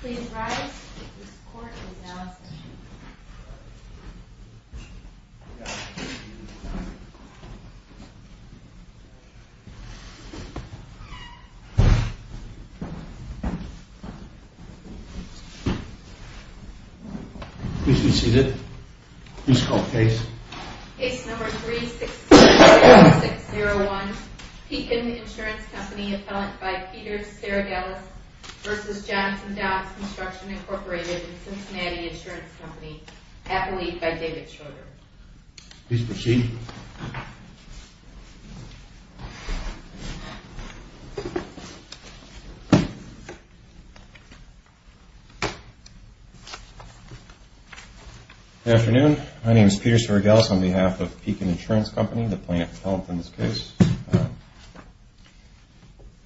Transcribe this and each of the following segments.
Please rise. This court is now in session. Please be seated. Please call the case. Case No. 36601, Pekin Insurance Company, appellant by Peter Saragelis v. Johnson-Downs Constructions, Inc., Cincinnati Insurance Company. Appellee by David Schroeder. Please proceed. Good afternoon. My name is Peter Saragelis on behalf of Pekin Insurance Company, the plaintiff appellant in this case.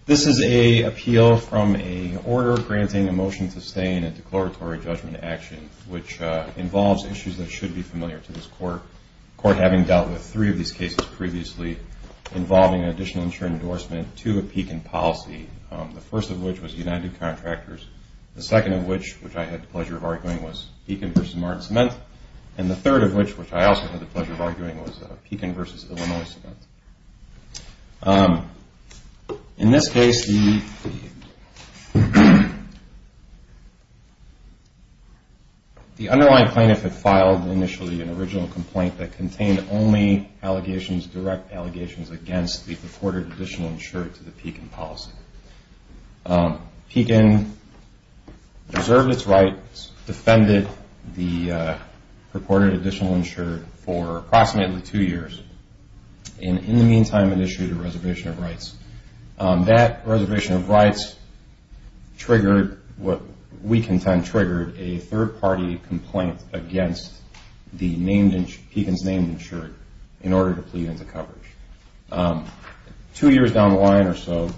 This is an appeal from an order granting a motion to stay in a declaratory judgment action, which involves issues that should be familiar to this court, the court having dealt with three of these cases previously, involving an additional insurance endorsement to a Pekin policy, the first of which was United Contractors, the second of which, which I had the pleasure of arguing, was Pekin v. Martin Cement, and the third of which, which I also had the pleasure of arguing, was Pekin v. Illinois Cement. In this case, the underlying plaintiff had filed initially an original complaint that contained only allegations, direct allegations against the purported additional insurer to the Pekin policy. Pekin preserved its rights, defended the purported additional insurer for approximately two years, and in the meantime, it issued a reservation of rights. That reservation of rights triggered what we contend triggered a third-party complaint against Pekin's named insurer in order to plead into coverage. Two years down the line or so,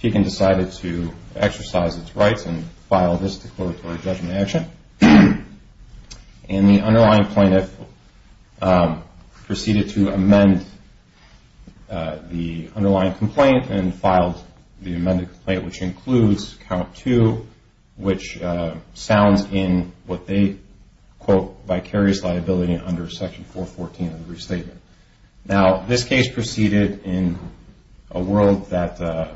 Pekin decided to exercise its rights and file this declaratory judgment action, and the underlying plaintiff proceeded to amend the underlying complaint and filed the amended complaint, which includes count two, which sounds in what they quote, vicarious liability under section 414 of the restatement. Now, this case proceeded in a world that,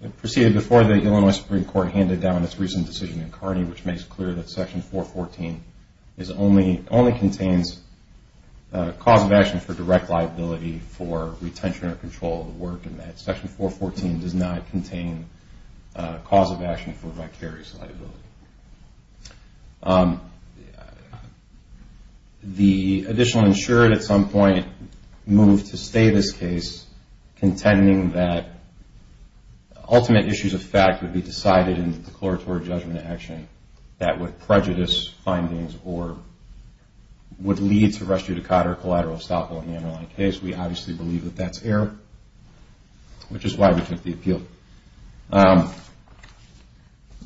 it proceeded before the Illinois Supreme Court handed down its recent decision in Carney, which makes clear that section 414 only contains cause of action for direct liability for retention or control of the work in that section 414 does not contain cause of action for vicarious liability. The additional insurer at some point moved to stay this case, contending that ultimate issues of fact would be decided in the declaratory judgment action that would prejudice findings or would lead to res judicata or collateral estoppel in the underlying case. We obviously believe that that's error, which is why we took the appeal.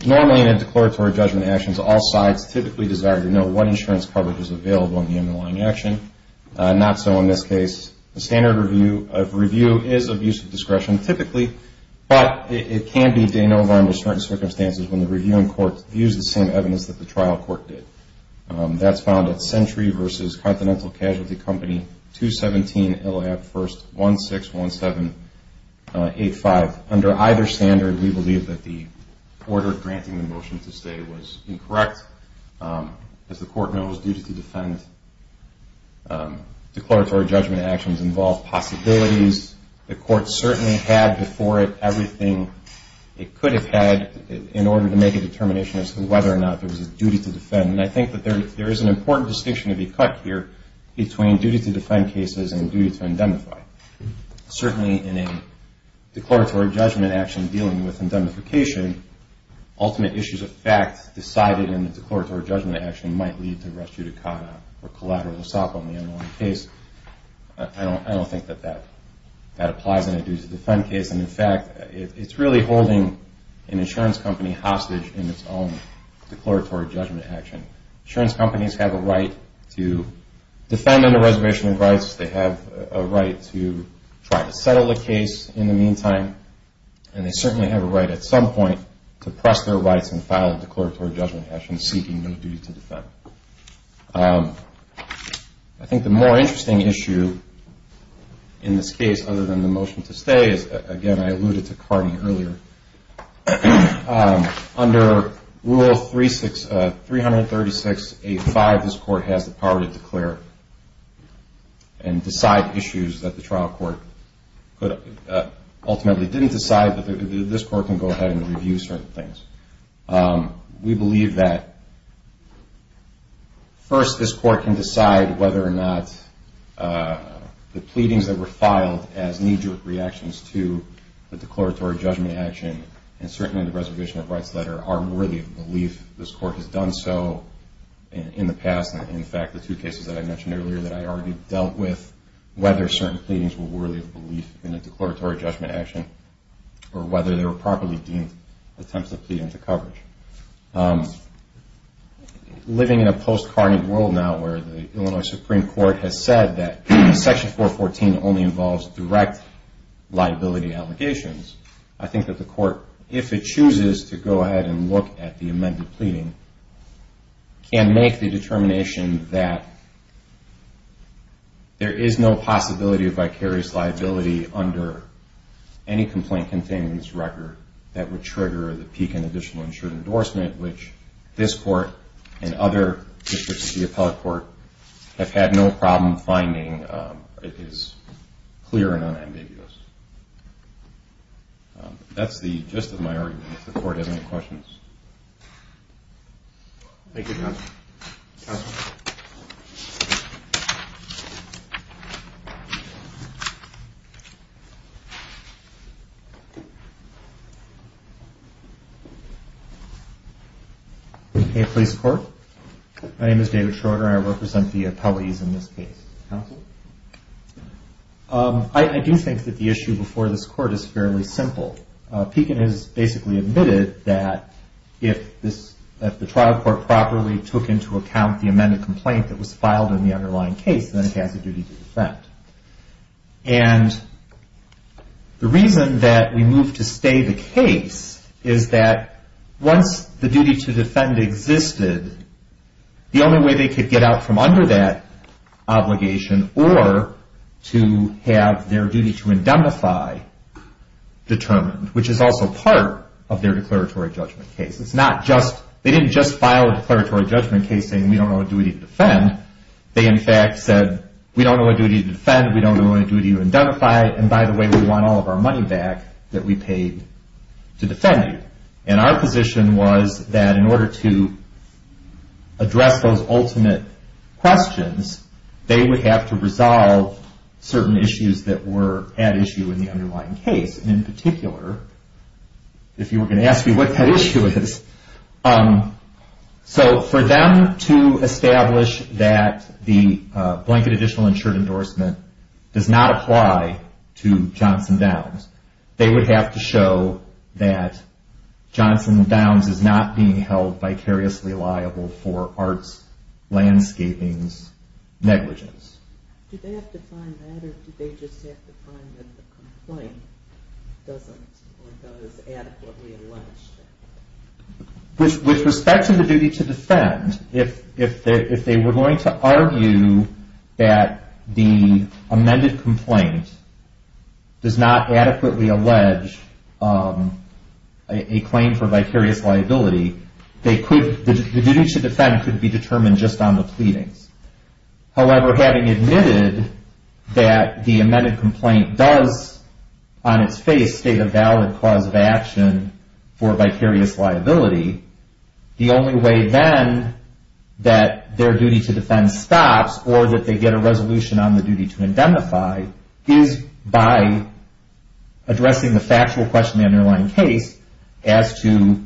Normally, in a declaratory judgment action, all sides typically desire to know what insurance coverage is available in the underlying action. Not so in this case. The standard review of review is of use of discretion typically, but it can be de novo under certain circumstances when the reviewing court views the same evidence that the trial court did. That's found at Century versus Continental Casualty Company, 217 Illhab 1st 161785. Under either standard, we believe that the order granting the motion to stay was incorrect. As the court knows, duty to defend declaratory judgment actions involve possibilities. The court certainly had before it everything it could have had in order to make a determination as to whether or not there was a duty to defend. And I think that there is an important distinction to be cut here between duty to defend cases and duty to indemnify. Certainly in a declaratory judgment action dealing with indemnification, ultimate issues of fact decided in the declaratory judgment action might lead to restituta cata or collateral assault on the underlying case. I don't think that that applies in a duty to defend case. And in fact, it's really holding an insurance company hostage in its own declaratory judgment action. Insurance companies have a right to defend under reservation of rights. They have a right to try to settle a case in the meantime. And they certainly have a right at some point to press their rights and file a declaratory judgment action seeking no duty to defend. I think the more interesting issue in this case other than the motion to stay is, again, I alluded to Cardi earlier. Under Rule 336.85, this court has the power to declare and decide issues that the trial court ultimately didn't decide, but this court can go ahead and review certain things. We believe that first this court can decide whether or not the pleadings that were filed as knee-jerk reactions to the declaratory judgment action and certainly the reservation of rights letter are worthy of belief. This court has done so in the past. In fact, the two cases that I mentioned earlier that I argued dealt with whether certain pleadings were worthy of belief in a declaratory judgment action or whether they were properly deemed attempts to plead into coverage. Living in a post-carnage world now where the Illinois Supreme Court has said that Section 414 only involves direct liability allegations, I think that the court, if it chooses to go ahead and look at the amended pleading, can make the determination that there is no possibility of vicarious liability under any complaint containing this record that would trigger the peak and additional insured endorsement, which this court and other districts of the appellate court have had no problem finding is clear and unambiguous. That's the gist of my argument, if the court has any questions. Thank you, Your Honor. Counsel. Hey, police court. My name is David Schroeder. I represent the appellees in this case. Counsel. I do think that the issue before this court is fairly simple. Pekin has basically admitted that if the trial court properly took into account the amended complaint that was filed in the underlying case, then it has a duty to defend. And the reason that we moved to stay the case is that once the duty to defend existed, the only way they could get out from under that obligation or to have their duty to indemnify determined, which is also part of their declaratory judgment case. It's not just, they didn't just file a declaratory judgment case saying, we don't know what duty to defend. They, in fact, said, we don't know what duty to defend. We don't know what duty to indemnify. And by the way, we want all of our money back that we paid to defend you. And our position was that in order to address those ultimate questions, they would have to resolve certain issues that were at issue in the underlying case. And in particular, if you were going to ask me what that issue is, so for them to establish that the blanket additional insured endorsement does not apply to Johnson Downs, they would have to show that Johnson Downs is not being held vicariously liable for arts landscaping's negligence. Do they have to find that or do they just have to find that the complaint doesn't or does adequately allege that? With respect to the duty to defend, if they were going to argue that the amended complaint does not adequately allege a claim for vicarious liability, the duty to defend could be determined just on the pleadings. However, having admitted that the amended complaint does, on its face, state a valid cause of action for vicarious liability, the only way then that their duty to defend stops or that they get a resolution on the duty to indemnify is by addressing the factual question in the underlying case as to,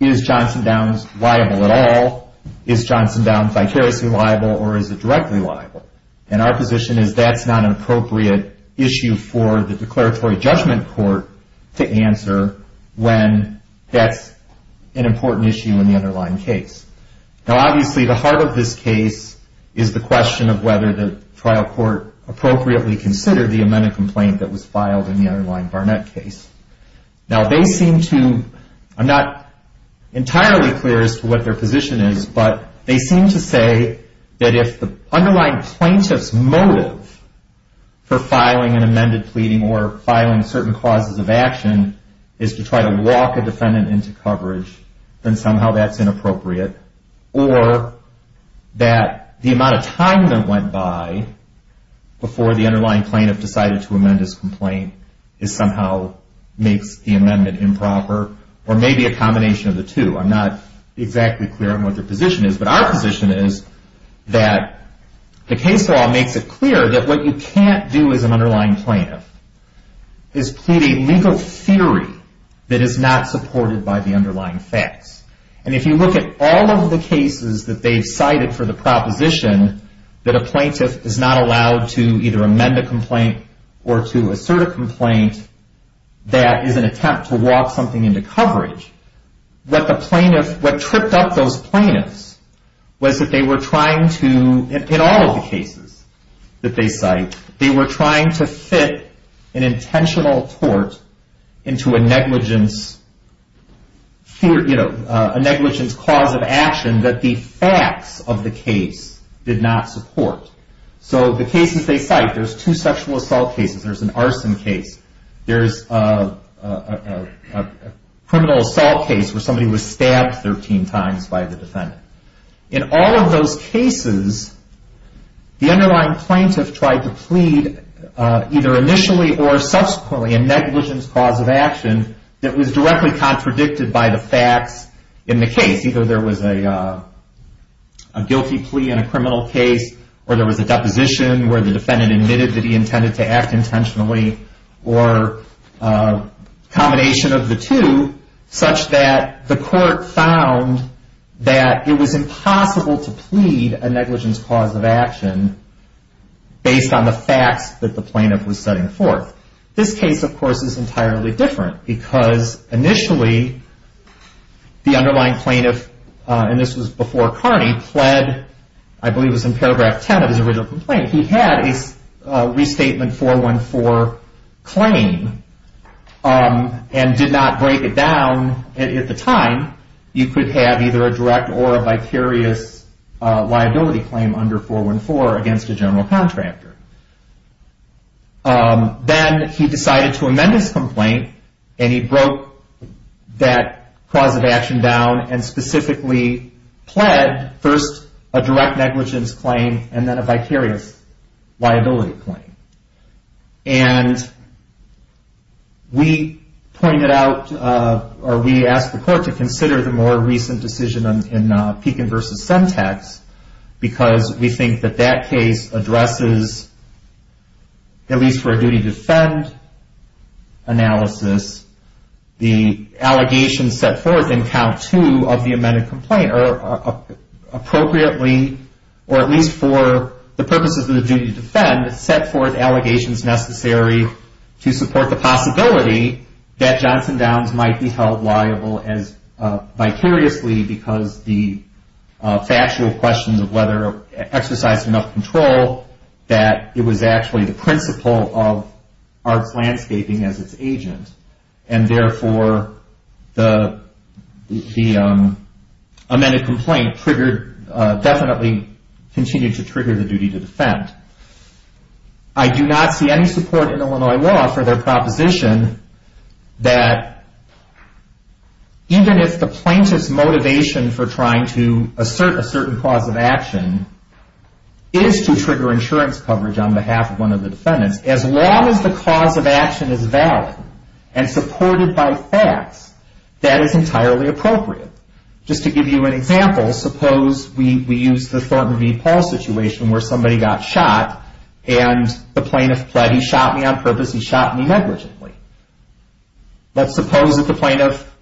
is Johnson Downs liable at all? Is Johnson Downs vicariously liable or is it directly liable? And our position is that's not an appropriate issue for the declaratory judgment court to answer when that's an important issue in the underlying case. Now, obviously, the heart of this case is the question of whether the trial court appropriately considered the amended complaint that was filed in the underlying Barnett case. Now, they seem to, I'm not entirely clear as to what their position is, but they seem to say that if the underlying plaintiff's motive for filing an amended pleading or filing certain causes of action is to try to walk a defendant into coverage, then somehow that's inappropriate, or that the amount of time that went by before the underlying plaintiff decided to amend his complaint somehow makes the amendment improper, or maybe a combination of the two. I'm not exactly clear on what their position is, but our position is that the case law makes it clear that what you can't do as an underlying plaintiff is plead a legal theory that is not supported by the underlying facts. And if you look at all of the cases that they've cited for the proposition that a plaintiff is not allowed to either amend a complaint or to assert a complaint that is an attempt to walk something into coverage, what the plaintiff, what tripped up those plaintiffs was that they were trying to, in all of the cases that they cite, they were trying to fit an intentional tort into a negligence cause of action that the facts of the case did not support. So the cases they cite, there's two sexual assault cases, there's an arson case, there's a criminal assault case In all of those cases, the underlying plaintiff tried to plead either initially or subsequently a negligence cause of action that was directly contradicted by the facts in the case. Either there was a guilty plea in a criminal case, or there was a deposition where the defendant admitted that he intended to act intentionally, or a combination of the two, such that the court found that it was impossible to plead a negligence cause of action based on the facts that the plaintiff was setting forth. This case, of course, is entirely different because initially the underlying plaintiff, and this was before Carney, pled, I believe it was in paragraph 10 of his original complaint, he had a restatement 414 claim and did not break it down at the time. You could have either a direct or a vicarious liability claim under 414 against a general contractor. Then he decided to amend his complaint, and he broke that cause of action down and specifically pled first a direct negligence claim and then a vicarious liability claim. And we pointed out, or we asked the court to consider the more recent decision in Pekin v. Sentex because we think that that case addresses, at least for a duty to defend analysis, the allegations set forth in count two of the amended complaint or appropriately, or at least for the purposes of the duty to defend, set forth allegations necessary to support the possibility that Johnson Downs might be held liable as vicariously because the factual questions of whether it exercised enough control that it was actually the principle of arts landscaping as its agent. And therefore, the amended complaint triggered, definitely continued to trigger the duty to defend. I do not see any support in Illinois law for their proposition that even if the plaintiff's motivation for trying to assert a certain cause of action is to trigger insurance coverage on behalf of one of the defendants, as long as the cause of action is valid and supported by facts, that is entirely appropriate. Just to give you an example, suppose we use the Thornton v. Paul situation where somebody got shot and the plaintiff pled, he shot me on purpose, he shot me negligently. Let's suppose that the plaintiff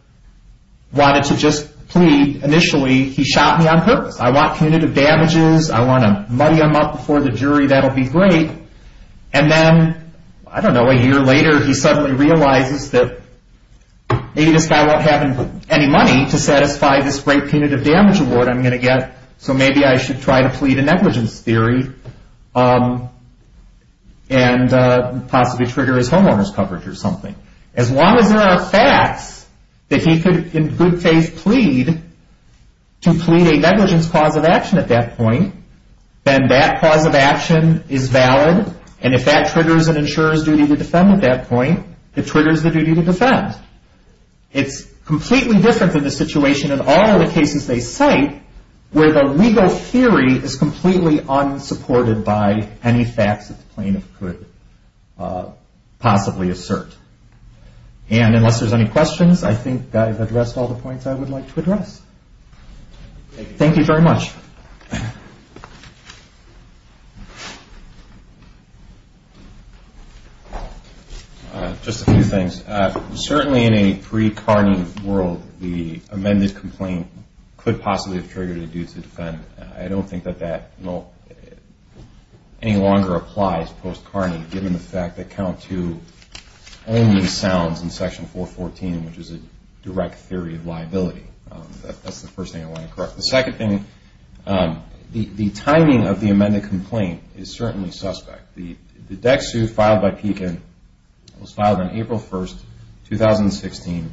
wanted to just plead initially, he shot me on purpose, I want punitive damages, I want to muddy him up before the jury, that'll be great. And then, I don't know, a year later he suddenly realizes that maybe this guy won't have any money to satisfy this great punitive damage award I'm going to get, so maybe I should try to plead a negligence theory and possibly trigger his homeowner's coverage or something. As long as there are facts that he could in good faith plead to plead a negligence cause of action at that point, then that cause of action is valid, and if that triggers an insurance duty to defend at that point, it triggers the duty to defend. It's completely different than the situation in all of the cases they cite where the legal theory is completely unsupported by any facts that the plaintiff could possibly assert. And unless there's any questions, I think I've addressed all the points I would like to address. Thank you very much. Just a few things. Certainly in a pre-Carney world, the amended complaint could possibly have triggered a duty to defend. I don't think that that any longer applies post-Carney given the fact that Count 2 only sounds in Section 414, which is a direct theory of liability. That's the first thing I want to correct. The second thing, the timing of the amended complaint is certainly suspect. The DEC suit filed by Pekin was filed on April 1, 2016.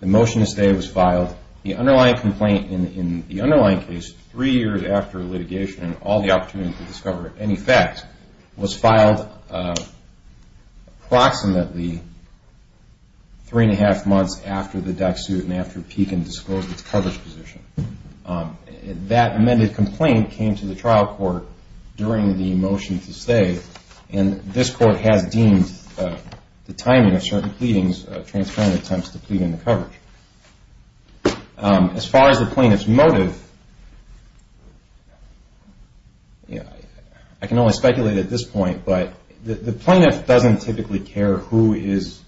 The motion to stay was filed. The underlying complaint in the underlying case three years after litigation and all the opportunity to discover any facts was filed approximately three and a half months after the DEC suit and after Pekin disclosed its coverage position. That amended complaint came to the trial court during the motion to stay, and this court has deemed the timing of certain pleadings transparent attempts to plead in the coverage. As far as the plaintiff's motive, I can only speculate at this point, but the plaintiff doesn't typically care who is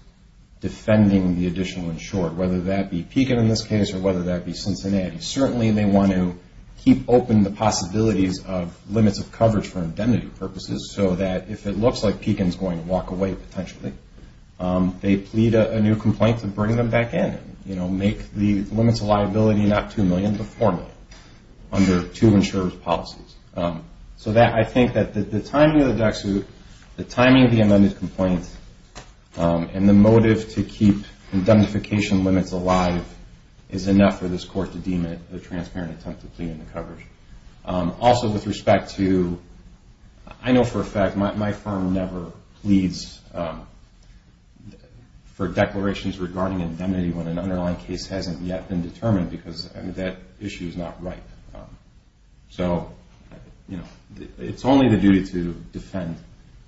defending the additional insured, whether that be Pekin in this case or whether that be Cincinnati. Certainly they want to keep open the possibilities of limits of coverage for indemnity purposes so that if it looks like Pekin is going to walk away potentially, they plead a new complaint to bring them back in, make the limits of liability not 2 million but 4 million under two insured policies. So I think that the timing of the DEC suit, the timing of the amended complaint, and the motive to keep indemnification limits alive is enough for this court to deem it a transparent attempt to plead in the coverage. Also with respect to, I know for a fact my firm never pleads for declarations regarding indemnity when an underlying case hasn't yet been determined because that issue is not ripe. So it's only the duty to defend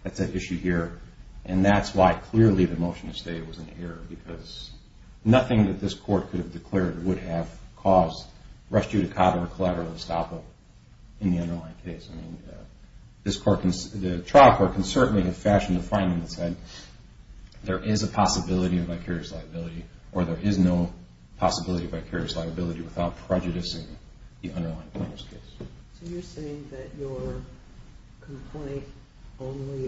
that's at issue here, and that's why clearly the motion to stay was an error because nothing that this court could have declared would have caused res judicata or collateral estoppel in the underlying case. I mean, the trial court can certainly have fashioned the finding that said there is a possibility of vicarious liability or there is no possibility of vicarious liability without prejudicing the underlying plaintiff's case. So you're saying that your complaint only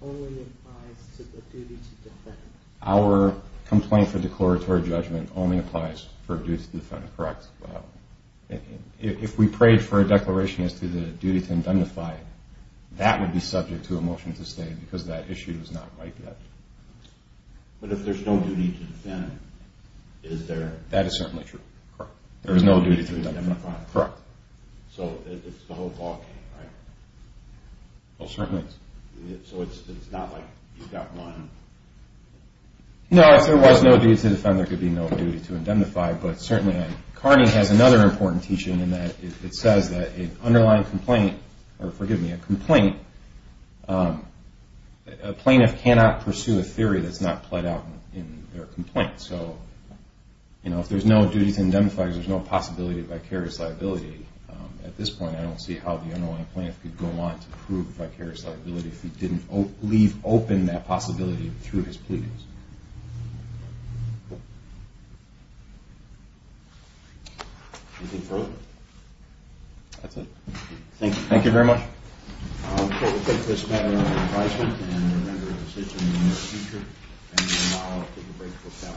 applies to the duty to defend? Our complaint for declaratory judgment only applies for duty to defend, correct. If we prayed for a declaration as to the duty to indemnify, that would be subject to a motion to stay because that issue is not ripe yet. But if there's no duty to defend, is there? That is certainly true. Correct. There is no duty to indemnify. Correct. So it's the whole ball game, right? Well, certainly. So it's not like you've got one. No, if there was no duty to defend, there could be no duty to indemnify, but certainly Carney has another important teaching in that it says that an underlying complaint, or forgive me, a complaint, a plaintiff cannot pursue a theory that's not played out in their complaint. So if there's no duty to indemnify because there's no possibility of vicarious liability at this point, I don't see how the underlying plaintiff could go on to prove vicarious liability if he didn't leave open that possibility through his plea. Anything further? That's it. Thank you very much. We'll take this matter under advisement and we'll render a decision in the near future. And now I'll take a break for panel.